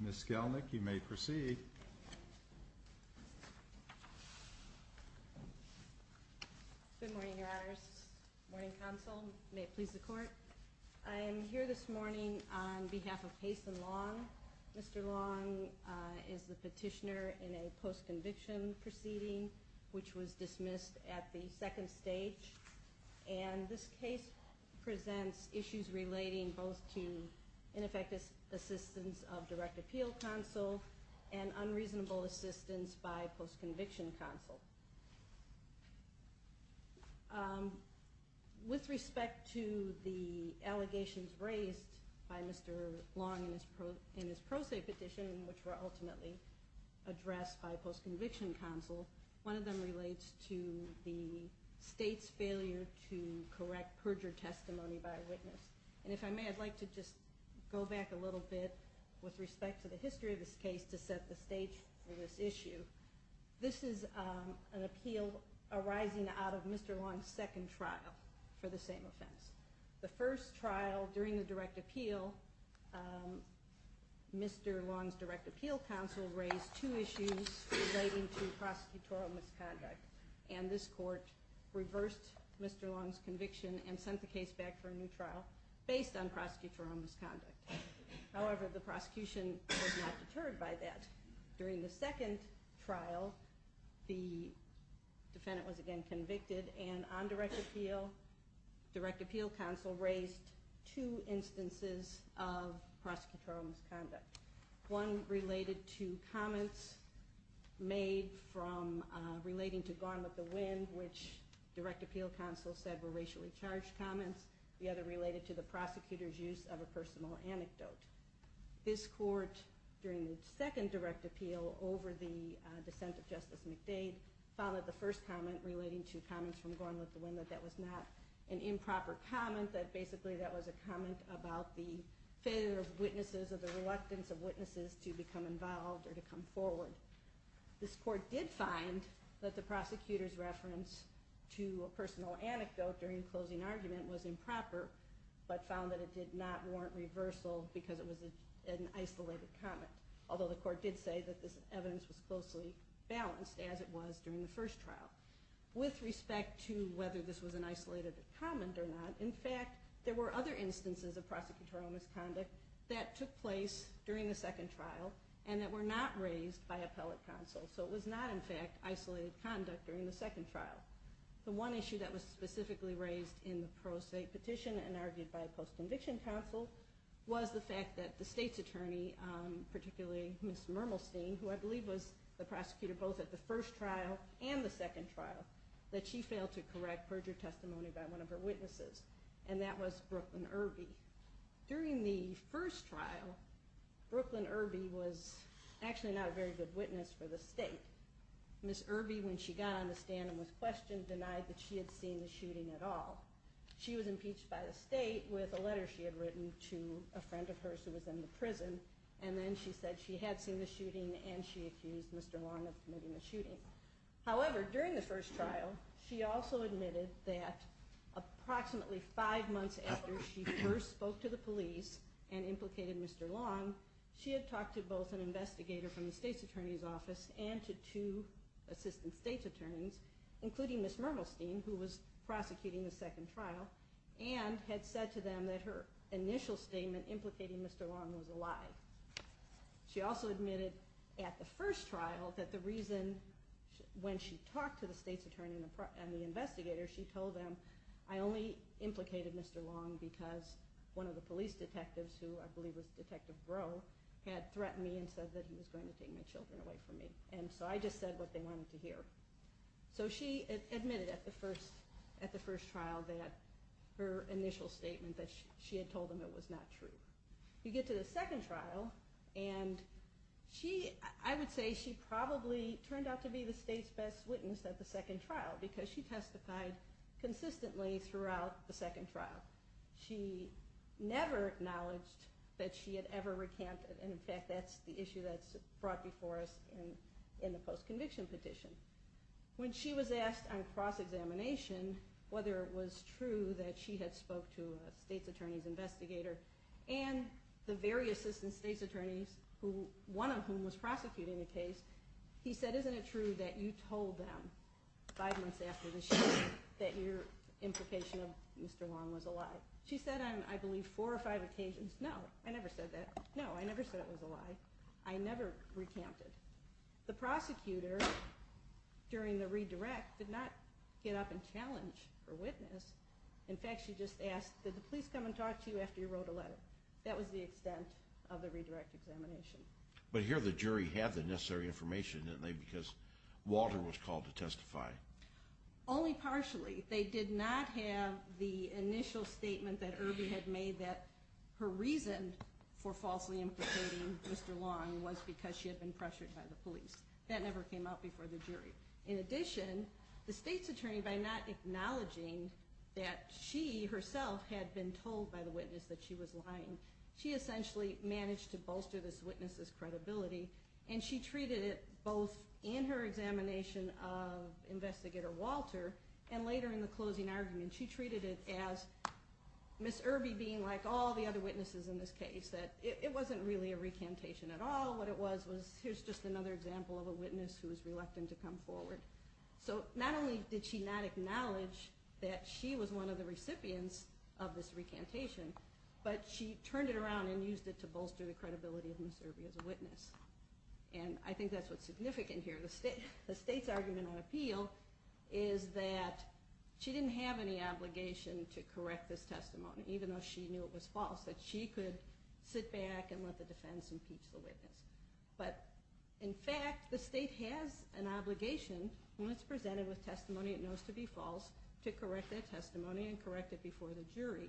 Ms. Skelnick, you may proceed. Good morning, Your Honors. Good morning, Counsel. May it please the Court. I am here this morning on behalf of Hazen Long. Mr. Long is the petitioner in a post-conviction proceeding which was dismissed at the second stage. And this case presents issues relating both to ineffective assistance of direct appeal counsel and unreasonable assistance by post-conviction counsel. With respect to the allegations raised by Mr. Long in his pro se petition, which were ultimately addressed by post-conviction counsel, one of them relates to the state's failure to correct perjured testimony by a witness. And if I may, I'd like to just go back a little bit with respect to the history of this case to set the stage for this issue. This is an appeal arising out of Mr. Long's second trial for the same offense. The first trial during the direct appeal, Mr. Long's direct appeal counsel raised two issues relating to prosecutorial misconduct. And this court reversed Mr. Long's conviction and sent the case back for a new trial based on prosecutorial misconduct. However, the prosecution was not deterred by that. During the second trial, the defendant was again convicted, and on direct appeal, direct appeal counsel raised two instances of prosecutorial misconduct. One related to comments made relating to Gone with the Wind, which direct appeal counsel said were racially charged comments. The other related to the prosecutor's use of a personal anecdote. This court, during the second direct appeal over the dissent of Justice McDade, found that the first comment relating to comments from Gone with the Wind, that that was not an improper comment, that basically that was a comment about the failure of witnesses or the reluctance of witnesses to become involved or to come forward. This court did find that the prosecutor's reference to a personal anecdote during the closing argument was improper, but found that it did not warrant reversal because it was an isolated comment. Although the court did say that this evidence was closely balanced, as it was during the first trial. With respect to whether this was an isolated comment or not, in fact, there were other instances of prosecutorial misconduct that took place during the second trial and that were not raised by appellate counsel. So it was not, in fact, isolated conduct during the second trial. The one issue that was specifically raised in the pro se petition and argued by a post-conviction counsel was the fact that the state's attorney, particularly Ms. Mermelstein, who I believe was the prosecutor both at the first trial and the second trial, that she failed to correct perjure testimony by one of her witnesses, and that was Brooklyn Irby. During the first trial, Brooklyn Irby was actually not a very good witness for the state. Ms. Irby, when she got on the stand and was questioned, denied that she had seen the shooting at all. She was impeached by the state with a letter she had written to a friend of hers who was in the prison, and then she said she had seen the shooting and she accused Mr. Long of committing the shooting. However, during the first trial, she also admitted that approximately five months after she first spoke to the police and implicated Mr. Long, she had talked to both an investigator from the state's attorney's office and to two assistant state's attorneys, including Ms. Mermelstein, who was prosecuting the second trial, and had said to them that her initial statement implicating Mr. Long was a lie. She also admitted at the first trial that the reason when she talked to the state's attorney and the investigator, she told them, I only implicated Mr. Long because one of the police detectives, who I believe was Detective Groh, had threatened me and said that he was going to take my children away from me. And so I just said what they wanted to hear. So she admitted at the first trial that her initial statement, that she had told them it was not true. You get to the second trial, and I would say she probably turned out to be the state's best witness at the second trial because she testified consistently throughout the second trial. She never acknowledged that she had ever recanted, and in fact that's the issue that's brought before us in the post-conviction petition. When she was asked on cross-examination whether it was true that she had spoke to a state's attorney's investigator and the various assistant state's attorneys, one of whom was prosecuting the case, he said, isn't it true that you told them five months after the shooting that your implication of Mr. Long was a lie? She said on, I believe, four or five occasions, no, I never said that. No, I never said it was a lie. I never recanted. The prosecutor, during the redirect, did not get up and challenge her witness. In fact, she just asked, did the police come and talk to you after you wrote a letter? That was the extent of the redirect examination. But here the jury had the necessary information, didn't they, because Walter was called to testify. Only partially. They did not have the initial statement that Irby had made that her reason for falsely implicating Mr. Long was because she had been pressured by the police. That never came out before the jury. In addition, the state's attorney, by not acknowledging that she herself had been told by the witness that she was lying, she essentially managed to bolster this witness's credibility, and she treated it both in her examination of investigator Walter and later in the closing argument, she treated it as Ms. Irby being like all the other witnesses in this case, that it wasn't really a recantation at all. What it was was, here's just another example of a witness who was reluctant to come forward. So not only did she not acknowledge that she was one of the recipients of this recantation, but she turned it around and used it to bolster the credibility of Ms. Irby as a witness. And I think that's what's significant here. The state's argument on appeal is that she didn't have any obligation to correct this testimony, even though she knew it was false, that she could sit back and let the defense impeach the witness. But, in fact, the state has an obligation, when it's presented with testimony it knows to be false, to correct that testimony and correct it before the jury.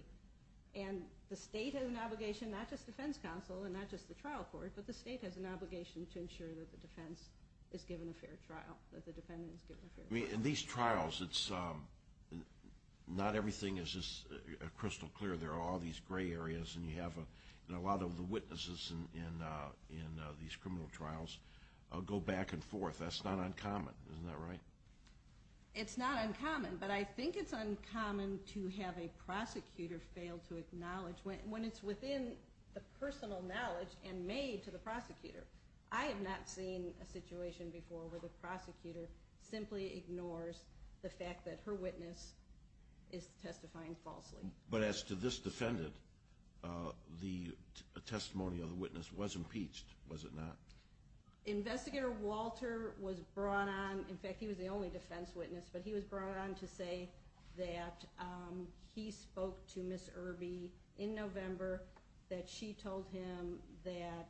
And the state has an obligation, not just defense counsel and not just the trial court, but the state has an obligation to ensure that the defense is given a fair trial, that the defendant is given a fair trial. In these trials, not everything is crystal clear. There are all these gray areas, and you have a lot of the witnesses in these criminal trials go back and forth. That's not uncommon, isn't that right? It's not uncommon, but I think it's uncommon to have a prosecutor fail to acknowledge, when it's within the personal knowledge and made to the prosecutor. I have not seen a situation before where the prosecutor simply ignores the fact that her witness is testifying falsely. But as to this defendant, the testimony of the witness was impeached, was it not? Investigator Walter was brought on, in fact, he was the only defense witness, but he was brought on to say that he spoke to Ms. Irby in November, that she told him that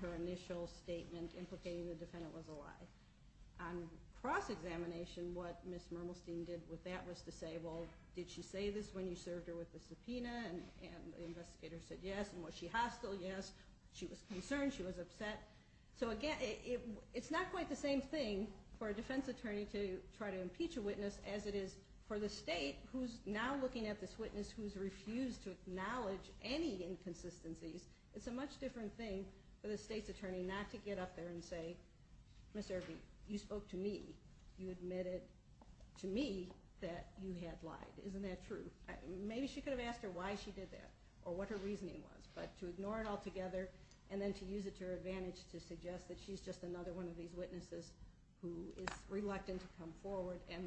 her initial statement implicating the defendant was a lie. On cross-examination, what Ms. Mermelstein did with that was to say, well, did she say this when you served her with the subpoena? And the investigator said yes, and was she hostile? Yes. She was concerned, she was upset. So again, it's not quite the same thing for a defense attorney to try to impeach a witness as it is for the state who's now looking at this witness who's refused to acknowledge any inconsistencies. It's a much different thing for the state's attorney not to get up there and say, Ms. Irby, you spoke to me, you admitted to me that you had lied. Isn't that true? Maybe she could have asked her why she did that or what her reasoning was, but to ignore it altogether and then to use it to her advantage to suggest that she's just another one of these witnesses who is reluctant to come forward and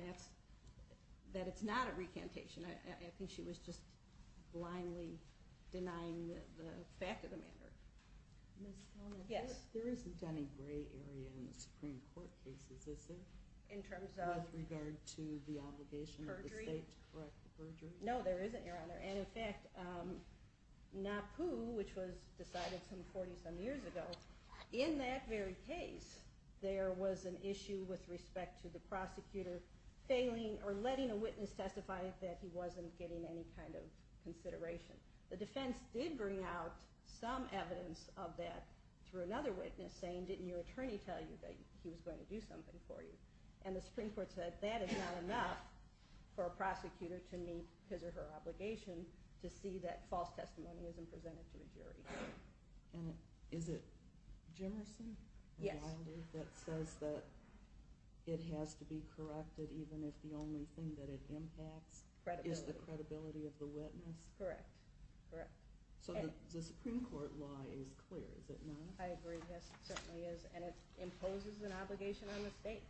that it's not a recantation. I think she was just blindly denying the fact of the matter. Ms. Conant, there isn't any gray area in the Supreme Court cases, is there? In terms of? With regard to the obligation of the state to correct the perjury? No, there isn't, Your Honor. In fact, NAPU, which was decided some 40-some years ago, in that very case there was an issue with respect to the prosecutor failing or letting a witness testify that he wasn't getting any kind of consideration. The defense did bring out some evidence of that through another witness saying, didn't your attorney tell you that he was going to do something for you? And the Supreme Court said that is not enough for a prosecutor to meet his or her obligation to see that false testimony isn't presented to a jury. And is it Jimerson? Yes. That says that it has to be corrected even if the only thing that it impacts is the credibility of the witness? Correct, correct. So the Supreme Court law is clear, is it not? I agree. Yes, it certainly is. And it imposes an obligation on the state.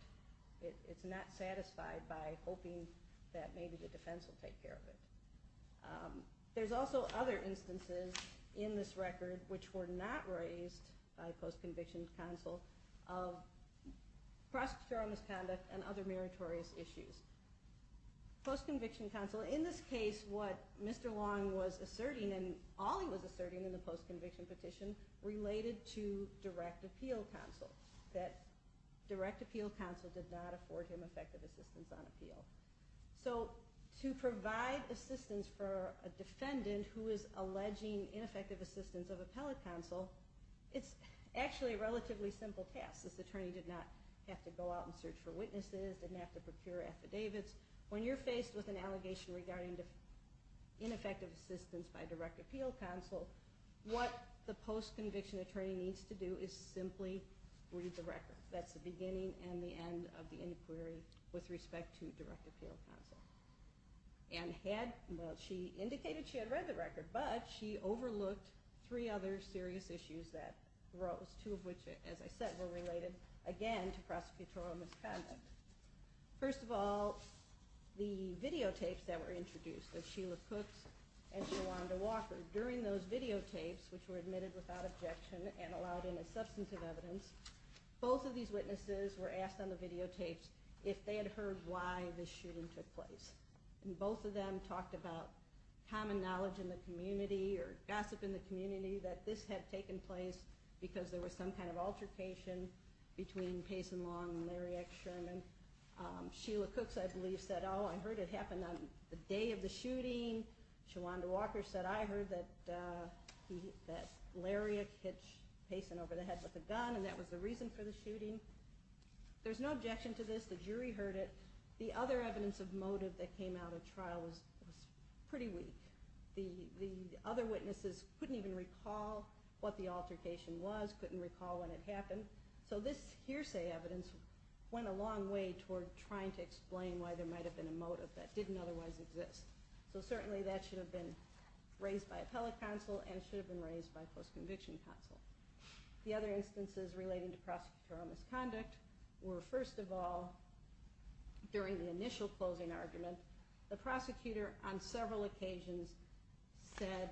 It's not satisfied by hoping that maybe the defense will take care of it. There's also other instances in this record which were not raised by post-conviction counsel of prosecutorial misconduct and other meritorious issues. Post-conviction counsel, in this case what Mr. Long was asserting and all he was asserting in the post-conviction petition related to direct appeal counsel, that direct appeal counsel did not afford him effective assistance on appeal. So to provide assistance for a defendant who is alleging ineffective assistance of appellate counsel, it's actually a relatively simple task. This attorney did not have to go out and search for witnesses, didn't have to procure affidavits. When you're faced with an allegation regarding ineffective assistance by direct appeal counsel, what the post-conviction attorney needs to do is simply read the record. That's the beginning and the end of the inquiry with respect to direct appeal counsel. And she indicated she had read the record, but she overlooked three other serious issues that arose, two of which, as I said, were related, again, to prosecutorial misconduct. First of all, the videotapes that were introduced, the Sheila Cooks and Shawanda Walker, during those videotapes, which were admitted without objection and allowed in as substantive evidence, both of these witnesses were asked on the videotapes if they had heard why the shooting took place. And both of them talked about common knowledge in the community or gossip in the community that this had taken place because there was some kind of altercation between Payson Long and Lariat Sherman. Sheila Cooks, I believe, said, oh, I heard it happened on the day of the shooting. Shawanda Walker said, I heard that Lariat hit Payson over the head with a gun, and that was the reason for the shooting. There's no objection to this. The jury heard it. The other evidence of motive that came out of trial was pretty weak. The other witnesses couldn't even recall what the altercation was, couldn't recall when it happened. So this hearsay evidence went a long way toward trying to explain why there might have been a motive that didn't otherwise exist. So certainly that should have been raised by appellate counsel and should have been raised by post-conviction counsel. The other instances relating to prosecutorial misconduct were, first of all, during the initial closing argument, the prosecutor on several occasions said,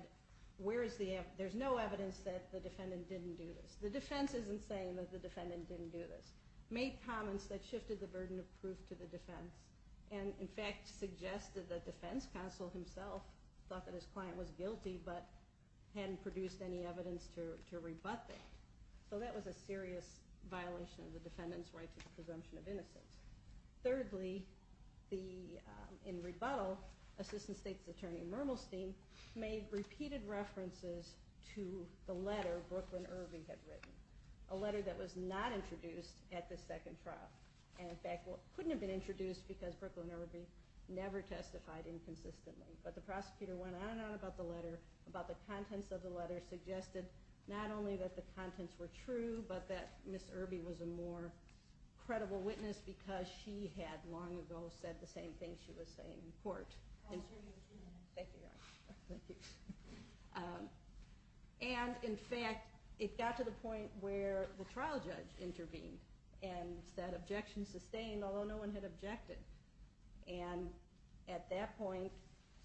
there's no evidence that the defendant didn't do this. The defense isn't saying that the defendant didn't do this. Made comments that shifted the burden of proof to the defense and, in fact, suggested the defense counsel himself thought that his client was guilty but hadn't produced any evidence to rebut that. So that was a serious violation of the defendant's right to the presumption of innocence. Thirdly, in rebuttal, Assistant State's Attorney Mermelstein made repeated references to the letter Brooklyn Irby had written, a letter that was not introduced at the second trial and, in fact, couldn't have been introduced because Brooklyn Irby never testified inconsistently. But the prosecutor went on and on about the letter, about the contents of the letter, suggested not only that the contents were true but that Ms. Irby was a more credible witness because she had long ago said the same thing she was saying in court. Thank you, Your Honor. And, in fact, it got to the point where the trial judge intervened and that objection sustained, although no one had objected. And at that point,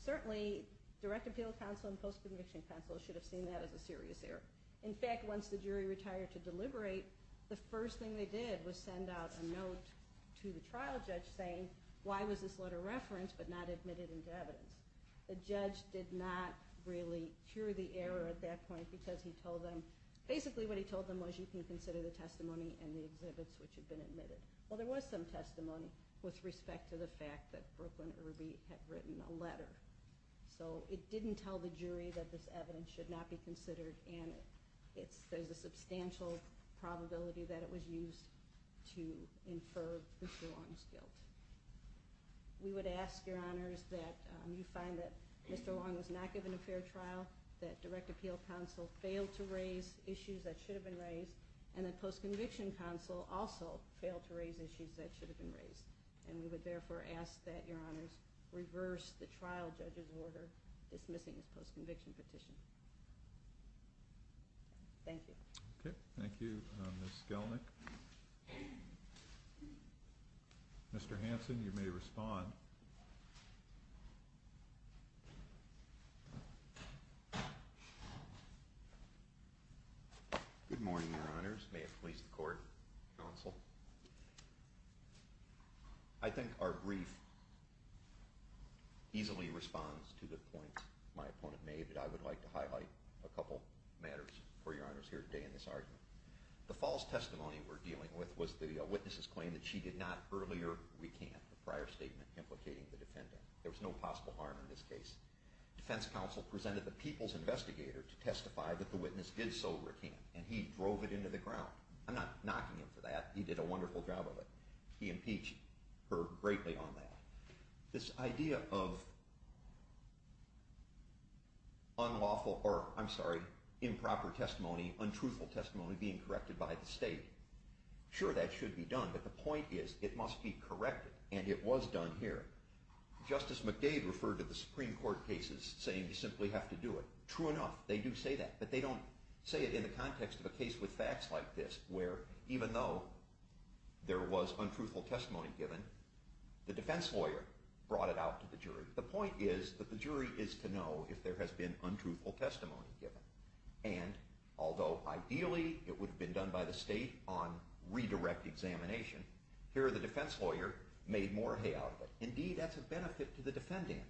certainly, direct appeal counsel and post-conviction counsel should have seen that as a serious error. In fact, once the jury retired to deliberate, the first thing they did was send out a note to the trial judge saying, why was this letter referenced but not admitted into evidence? The judge did not really cure the error at that point because he told them, basically what he told them was you can consider the testimony and the exhibits which had been admitted. Well, there was some testimony with respect to the fact that Brooklyn Irby had written a letter. So it didn't tell the jury that this evidence should not be considered and there's a substantial probability that it was used to infer Mr. Long's guilt. We would ask, Your Honors, that you find that Mr. Long was not given a fair trial, that direct appeal counsel failed to raise issues that should have been raised, and that post-conviction counsel also failed to raise issues that should have been raised. And we would, therefore, ask that Your Honors reverse the trial judge's order dismissing his post-conviction petition. Thank you. Okay. Thank you, Ms. Skelnick. Mr. Hanson, you may respond. Good morning, Your Honors. May it please the Court, Counsel. I think our brief easily responds to the point my opponent made that I would like to highlight a couple matters for Your Honors here today in this argument. The false testimony we're dealing with was the witness's claim that she did not earlier recant the prior statement implicating the defendant. There was no possible harm in this case. Defense counsel presented the people's investigator to testify that the witness did so recant and he drove it into the ground. I'm not knocking him for that. He did a wonderful job of it. He impeached her greatly on that. This idea of unlawful or, I'm sorry, improper testimony, untruthful testimony, being corrected by the state. Sure, that should be done, but the point is it must be corrected, and it was done here. Justice McDade referred to the Supreme Court cases saying you simply have to do it. True enough, they do say that, but they don't say it in the context of a case with facts like this where even though there was untruthful testimony given, the defense lawyer brought it out to the jury. The point is that the jury is to know if there has been untruthful testimony given, and although ideally it would have been done by the state on redirect examination, here the defense lawyer made more hay out of it. Indeed, that's a benefit to the defendant.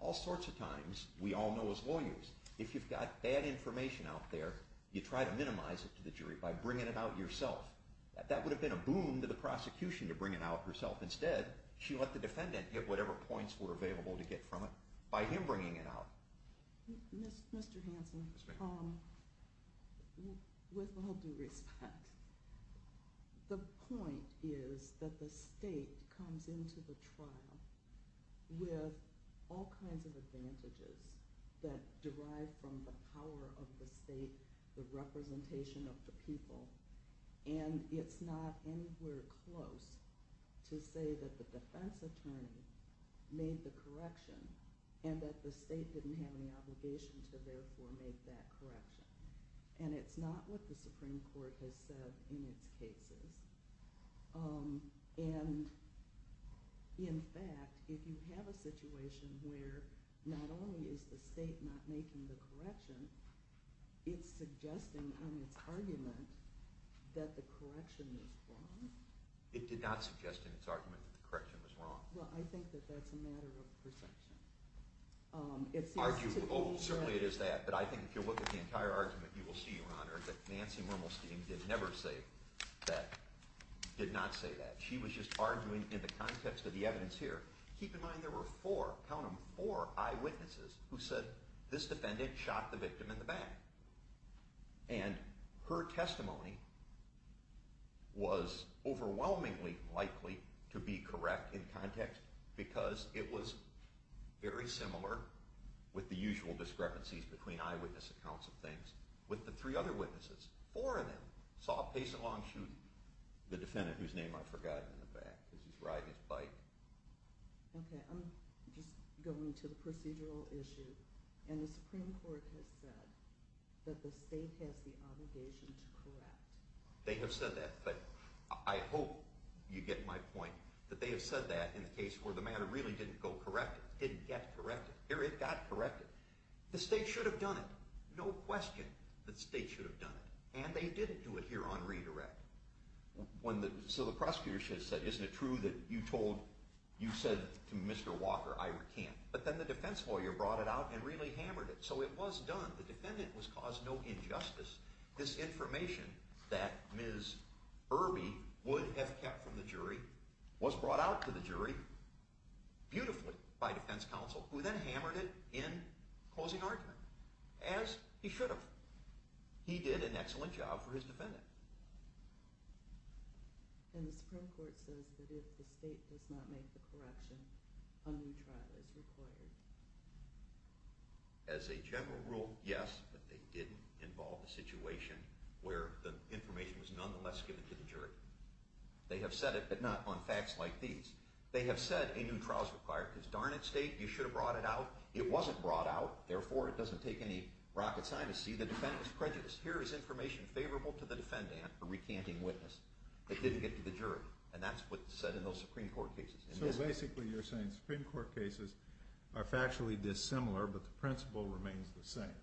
All sorts of times, we all know as lawyers, if you've got bad information out there, you try to minimize it to the jury by bringing it out yourself. That would have been a boon to the prosecution to bring it out herself. Instead, she let the defendant get whatever points were available to get from it by him bringing it out. Mr. Hanson, with all due respect, the point is that the state comes into the trial with all kinds of advantages that derive from the power of the state, the representation of the people, and it's not anywhere close to say that the defense attorney made the correction and that the state didn't have any obligation to therefore make that correction. It's not what the Supreme Court has said in its cases. In fact, if you have a situation where not only is the state not making the correction, it's suggesting in its argument that the correction is wrong? It did not suggest in its argument that the correction was wrong. Well, I think that that's a matter of perception. Oh, certainly it is that, but I think if you look at the entire argument, you will see, Your Honor, that Nancy Mermelstein did never say that, did not say that. She was just arguing in the context of the evidence here. Keep in mind there were four, count them, four eyewitnesses who said this defendant shot the victim in the back. And her testimony was overwhelmingly likely to be correct in context because it was very similar with the usual discrepancies between eyewitness accounts of things with the three other witnesses. Four of them saw a pace of long shooting the defendant whose name I've forgotten in the back because he's riding his bike. Okay, I'm just going to the procedural issue. And the Supreme Court has said that the state has the obligation to correct. They have said that. But I hope you get my point that they have said that in the case where the matter really didn't go corrected, didn't get corrected. Here it got corrected. The state should have done it. No question the state should have done it. And they didn't do it here on redirect. So the prosecutor should have said, isn't it true that you said to Mr. Walker, I recant? But then the defense lawyer brought it out and really hammered it. So it was done. The defendant was caused no injustice. This information that Ms. Irby would have kept from the jury was brought out to the jury beautifully by defense counsel who then hammered it in closing argument as he should have. He did an excellent job for his defendant. And the Supreme Court says that if the state does not make the correction, a new trial is required. As a general rule, yes, but they didn't involve the situation where the information was nonetheless given to the jury. They have said it, but not on facts like these. They have said a new trial is required because darn it, state, you should have brought it out. It wasn't brought out. Therefore, it doesn't take any rocket science to see the defendant's prejudice. Here is information favorable to the defendant, a recanting witness, that didn't get to the jury. And that's what's said in those Supreme Court cases. So basically you're saying Supreme Court cases are factually dissimilar, but the principle remains the same.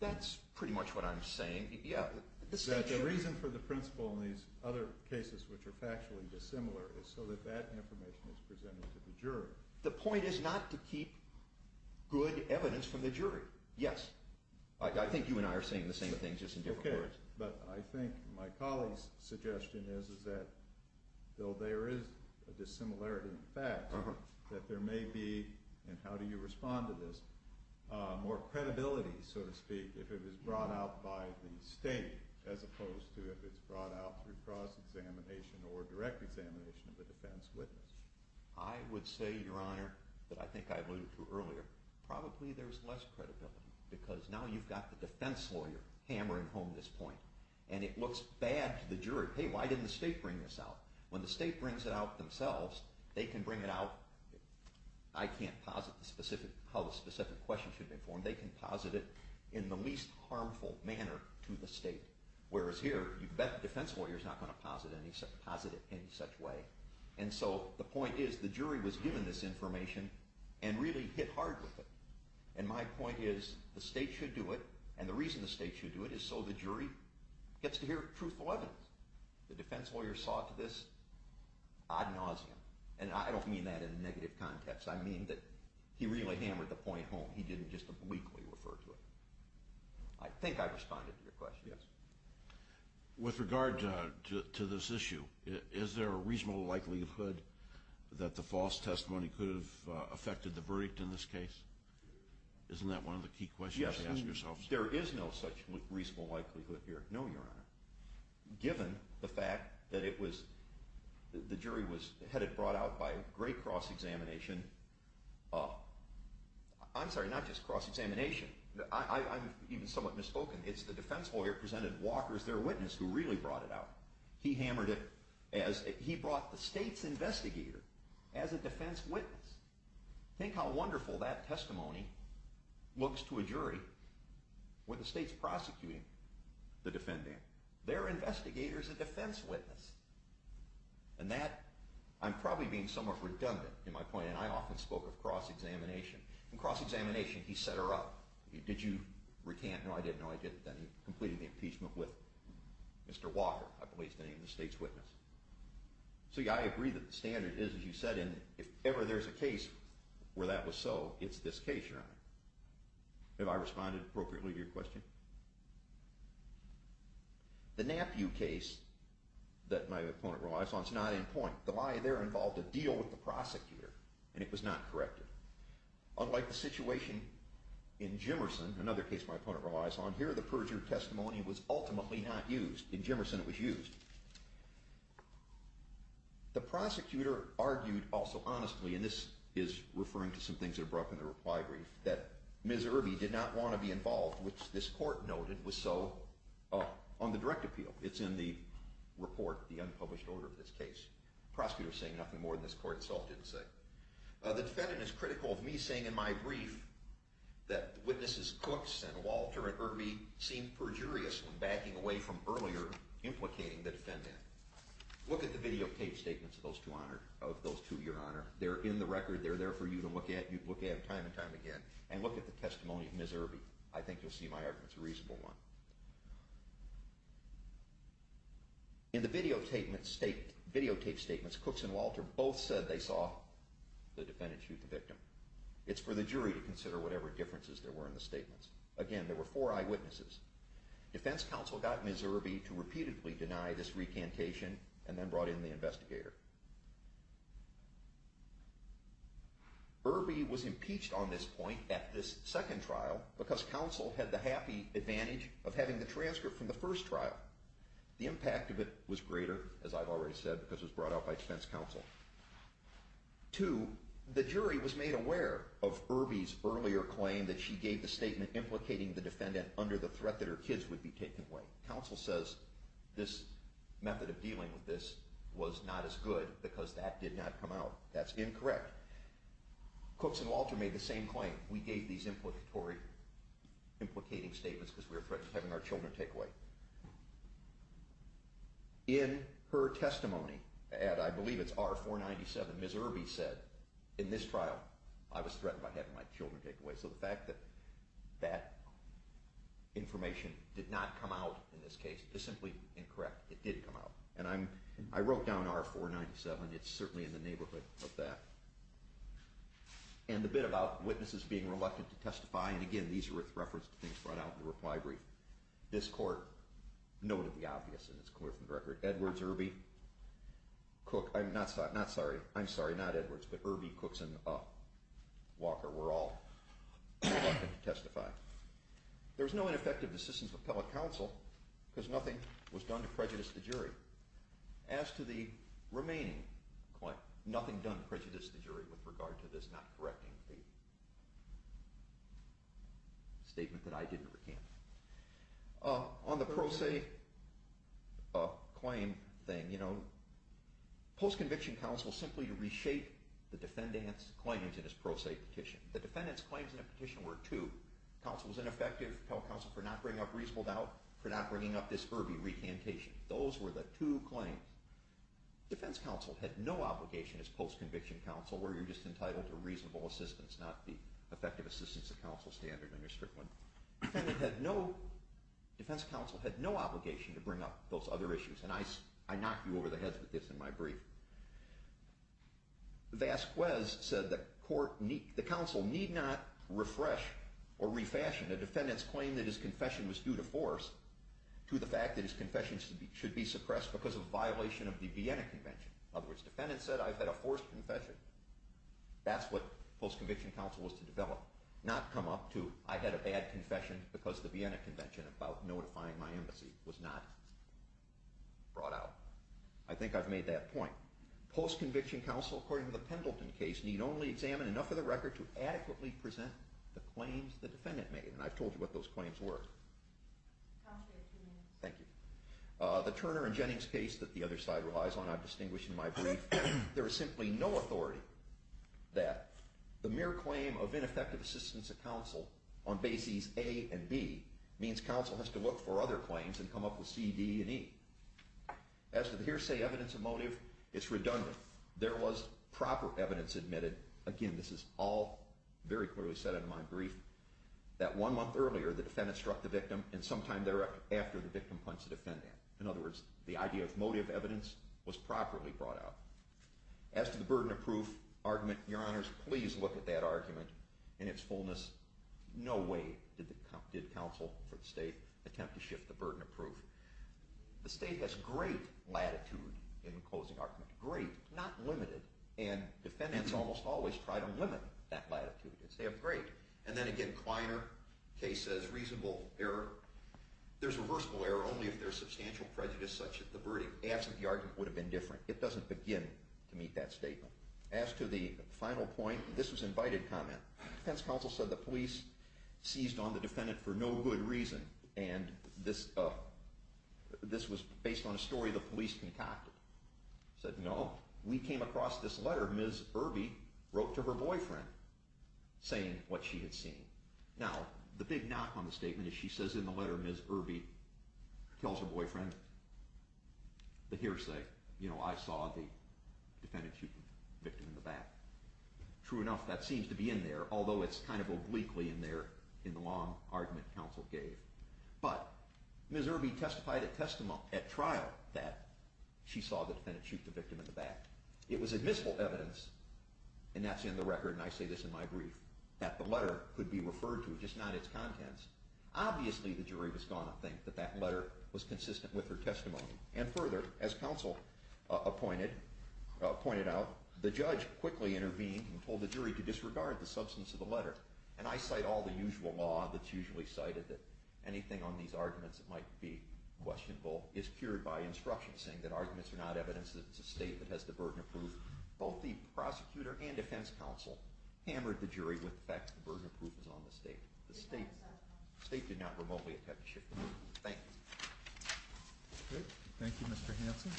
That's pretty much what I'm saying. Yeah. The reason for the principle in these other cases which are factually dissimilar is so that that information is presented to the jury. The point is not to keep good evidence from the jury. Yes. I think you and I are saying the same thing, just in different words. Okay. But I think my colleague's suggestion is that though there is a dissimilarity in fact, that there may be, and how do you respond to this, more credibility, so to speak, if it was brought out by the state as opposed to if it's brought out through cross-examination or direct examination of a defense witness. I would say, Your Honor, that I think I alluded to earlier, probably there's less credibility because now you've got the defense lawyer hammering home this point. And it looks bad to the jury. Hey, why didn't the state bring this out? When the state brings it out themselves, they can bring it out. I can't posit how the specific question should be informed. They can posit it in the least harmful manner to the state. Whereas here, you bet the defense lawyer's not going to posit it in any such way. And so the point is the jury was given this information and really hit hard with it. And my point is the state should do it, and the reason the state should do it is so the jury gets to hear truthful evidence. The defense lawyer saw to this ad nauseum. And I don't mean that in a negative context. I mean that he really hammered the point home. He didn't just obliquely refer to it. I think I responded to your question. Yes. With regard to this issue, is there a reasonable likelihood that the false testimony could have affected the verdict in this case? Isn't that one of the key questions to ask yourselves? Yes. There is no such reasonable likelihood here. No, Your Honor. Given the fact that the jury was headed brought out by great cross-examination. I'm sorry, not just cross-examination. I'm even somewhat misspoken. It's the defense lawyer presented Walker as their witness who really brought it out. He hammered it as he brought the state's investigator as a defense witness. Think how wonderful that testimony looks to a jury with the state's prosecuting the defendant. Their investigator is a defense witness. And that, I'm probably being somewhat redundant in my point, and I often spoke of cross-examination. In cross-examination, he set her up. Did you recant? No, I didn't. No, I didn't. Then he completed the impeachment with Mr. Walker. I believe he's the name of the state's witness. See, I agree that the standard is, as you said, if ever there's a case where that was so, it's this case, Your Honor. Have I responded appropriately to your question? The Nampu case that my opponent relies on is not in point. The lie there involved a deal with the prosecutor, and it was not corrected. Unlike the situation in Jimmerson, another case my opponent relies on, here the perjured testimony was ultimately not used. In Jimmerson, it was used. The prosecutor argued also honestly, and this is referring to some things that are brought up in the reply brief, that Ms. Irby did not want to be involved, which this court noted was so on the direct appeal. It's in the report, the unpublished order of this case. The prosecutor is saying nothing more than this court itself didn't say. The defendant is critical of me saying in my brief that witnesses Cooks and Walter and Irby seem perjurious when backing away from earlier implicating the defendant. Look at the videotaped statements of those two, Your Honor. They're in the record. They're there for you to look at time and time again. And look at the testimony of Ms. Irby. I think you'll see my argument's a reasonable one. In the videotaped statements, Cooks and Walter both said they saw the defendant shoot the victim. It's for the jury to consider whatever differences there were in the statements. Again, there were four eyewitnesses. Defense counsel got Ms. Irby to repeatedly deny this recantation and then brought in the investigator. Irby was impeached on this point at this second trial because counsel had the happy advantage of having the transcript from the first trial. The impact of it was greater, as I've already said, because it was brought out by defense counsel. Two, the jury was made aware of Irby's earlier claim that she gave the statement implicating the defendant under the threat that her kids would be taken away. Counsel says this method of dealing with this was not as good because that did not come out. That's incorrect. Cooks and Walter made the same claim. We gave these implicating statements because we were threatened with having our children take away. In her testimony, and I believe it's R-497, Ms. Irby said, in this trial, I was threatened by having my children take away. So the fact that that information did not come out in this case is simply incorrect. It did come out. And I wrote down R-497. It's certainly in the neighborhood of that. And the bit about witnesses being reluctant to testify, and again, these are with reference to things brought out in the reply brief. This court noted the obvious, and it's clear from the record. Edwards, Irby, Cook, I'm sorry, not Edwards, but Irby, Cooks, and Walker were all reluctant to testify. There was no ineffective assistance of appellate counsel because nothing was done to prejudice the jury. As to the remaining, nothing done prejudiced the jury with regard to this not correcting the statement that I didn't recant. On the pro se claim thing, you know, post-conviction counsel simply reshaped the defendant's claims in his pro se petition. The defendant's claims in the petition were two. Counsel was ineffective, appellate counsel for not bringing up reasonable doubt, for not bringing up this Irby recantation. Those were the two claims. Defense counsel had no obligation as post-conviction counsel where you're just entitled to reasonable assistance, not the effective assistance of counsel standard on your stripling. Defendant had no, defense counsel had no obligation to bring up those other issues, and I knocked you over the heads with this in my brief. Vasquez said that the counsel need not refresh or refashion a defendant's claim that his confession was due to force to the fact that his confession should be suppressed because of violation of the Vienna Convention. In other words, defendant said I've had a forced confession. That's what post-conviction counsel was to develop. Not come up to I had a bad confession because the Vienna Convention about notifying my embassy was not brought out. I think I've made that point. Post-conviction counsel, according to the Pendleton case, need only examine enough of the record to adequately present the claims the defendant made. And I've told you what those claims were. Counsel, you have two minutes. Thank you. The Turner and Jennings case that the other side relies on I've distinguished in my brief. There is simply no authority that the mere claim of ineffective assistance of counsel on bases A and B means counsel has to look for other claims and come up with C, D, and E. As to the hearsay evidence of motive, it's redundant. There was proper evidence admitted, again, this is all very clearly said in my brief, that one month earlier the defendant struck the victim and sometime thereafter the victim punched the defendant. In other words, the idea of motive evidence was properly brought out. As to the burden of proof argument, your honors, please look at that argument in its fullness. No way did counsel for the state attempt to shift the burden of proof. The state has great latitude in closing argument. Great, not limited. And defendants almost always try to limit that latitude and say I'm great. And then again Kleiner case says reasonable error. There's reversible error only if there's substantial prejudice such as the verdict. As to the argument would have been different. It doesn't begin to meet that statement. As to the final point, this was invited comment. Defense counsel said the police seized on the defendant for no good reason. And this was based on a story the police concocted. Said no, we came across this letter Ms. Irby wrote to her boyfriend saying what she had seen. Now, the big knock on the statement is she says in the letter Ms. Irby tells her boyfriend the hearsay. You know, I saw the defendant shoot the victim in the back. True enough, that seems to be in there, although it's kind of obliquely in there in the long argument counsel gave. But Ms. Irby testified at trial that she saw the defendant shoot the victim in the back. It was admissible evidence, and that's in the record, and I say this in my brief, that the letter could be referred to, just not its contents. Obviously the jury was going to think that that letter was consistent with her testimony. And further, as counsel pointed out, the judge quickly intervened and told the jury to disregard the substance of the letter. And I cite all the usual law that's usually cited that anything on these arguments that might be questionable is cured by instruction, saying that arguments are not evidence that it's a state that has the burden of proof. Both the prosecutor and defense counsel hammered the jury with the fact that the burden of proof was on the state. The state did not remotely attempt to shift the verdict. Thank you. Thank you, Mr. Hanson.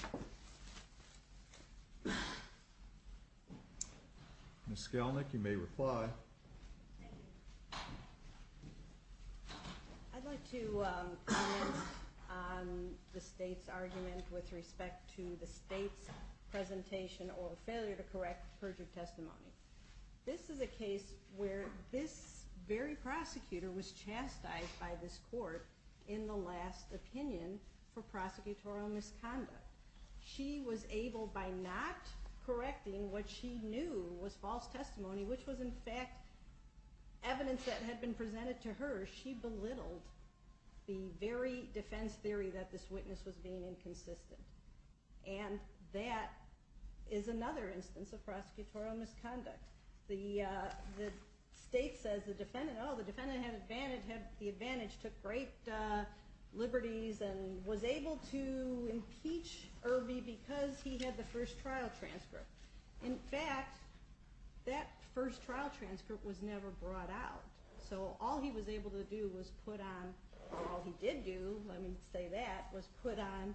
Ms. Skelnick, you may reply. Thank you. I'd like to comment on the state's argument with respect to the state's presentation or failure to correct perjured testimony. This is a case where this very prosecutor was chastised by this court in the last opinion for prosecutorial misconduct. She was able, by not correcting what she knew was false testimony, which was in fact evidence that had been presented to her, she belittled the very defense theory that this witness was being inconsistent. And that is another instance of prosecutorial misconduct. The state says, oh, the defendant had the advantage, took great liberties, and was able to impeach Irvie because he had the first trial transcript. In fact, that first trial transcript was never brought out. So all he was able to do was put on, or all he did do, let me say that, was put on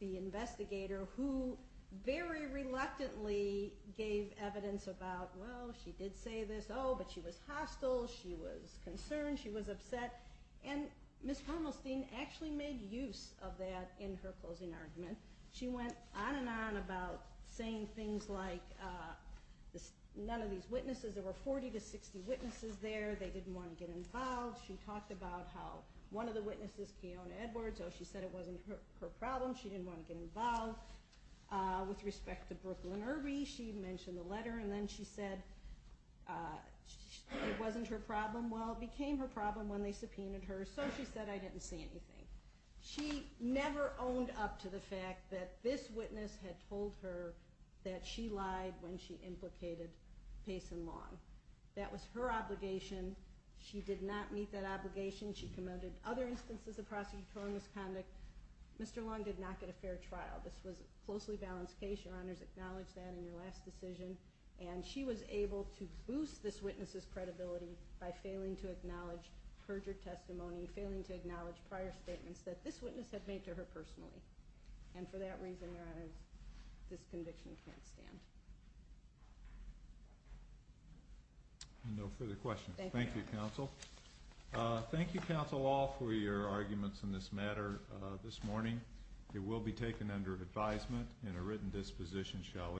the investigator, who very reluctantly gave evidence about, well, she did say this. Oh, but she was hostile. She was concerned. She was upset. And Ms. Hermelstein actually made use of that in her closing argument. She went on and on about saying things like none of these witnesses, there were 40 to 60 witnesses there. They didn't want to get involved. She talked about how one of the witnesses, Keona Edwards, oh, she said it wasn't her problem. She didn't want to get involved. With respect to Brooklyn Irvie, she mentioned the letter, and then she said it wasn't her problem. Well, it became her problem when they subpoenaed her. So she said, I didn't see anything. She never owned up to the fact that this witness had told her that she lied when she implicated Payson Long. That was her obligation. She did not meet that obligation. She commended other instances of prosecutorial misconduct. Mr. Long did not get a fair trial. This was a closely balanced case. Your Honors, acknowledge that in your last decision. And she was able to boost this witness's credibility by failing to acknowledge perjured testimony, failing to acknowledge prior statements that this witness had made to her personally. And for that reason, Your Honors, this conviction can't stand. No further questions. Thank you, Counsel. Thank you, Counsel, all, for your arguments in this matter this morning. It will be taken under advisement in a written disposition, shall we?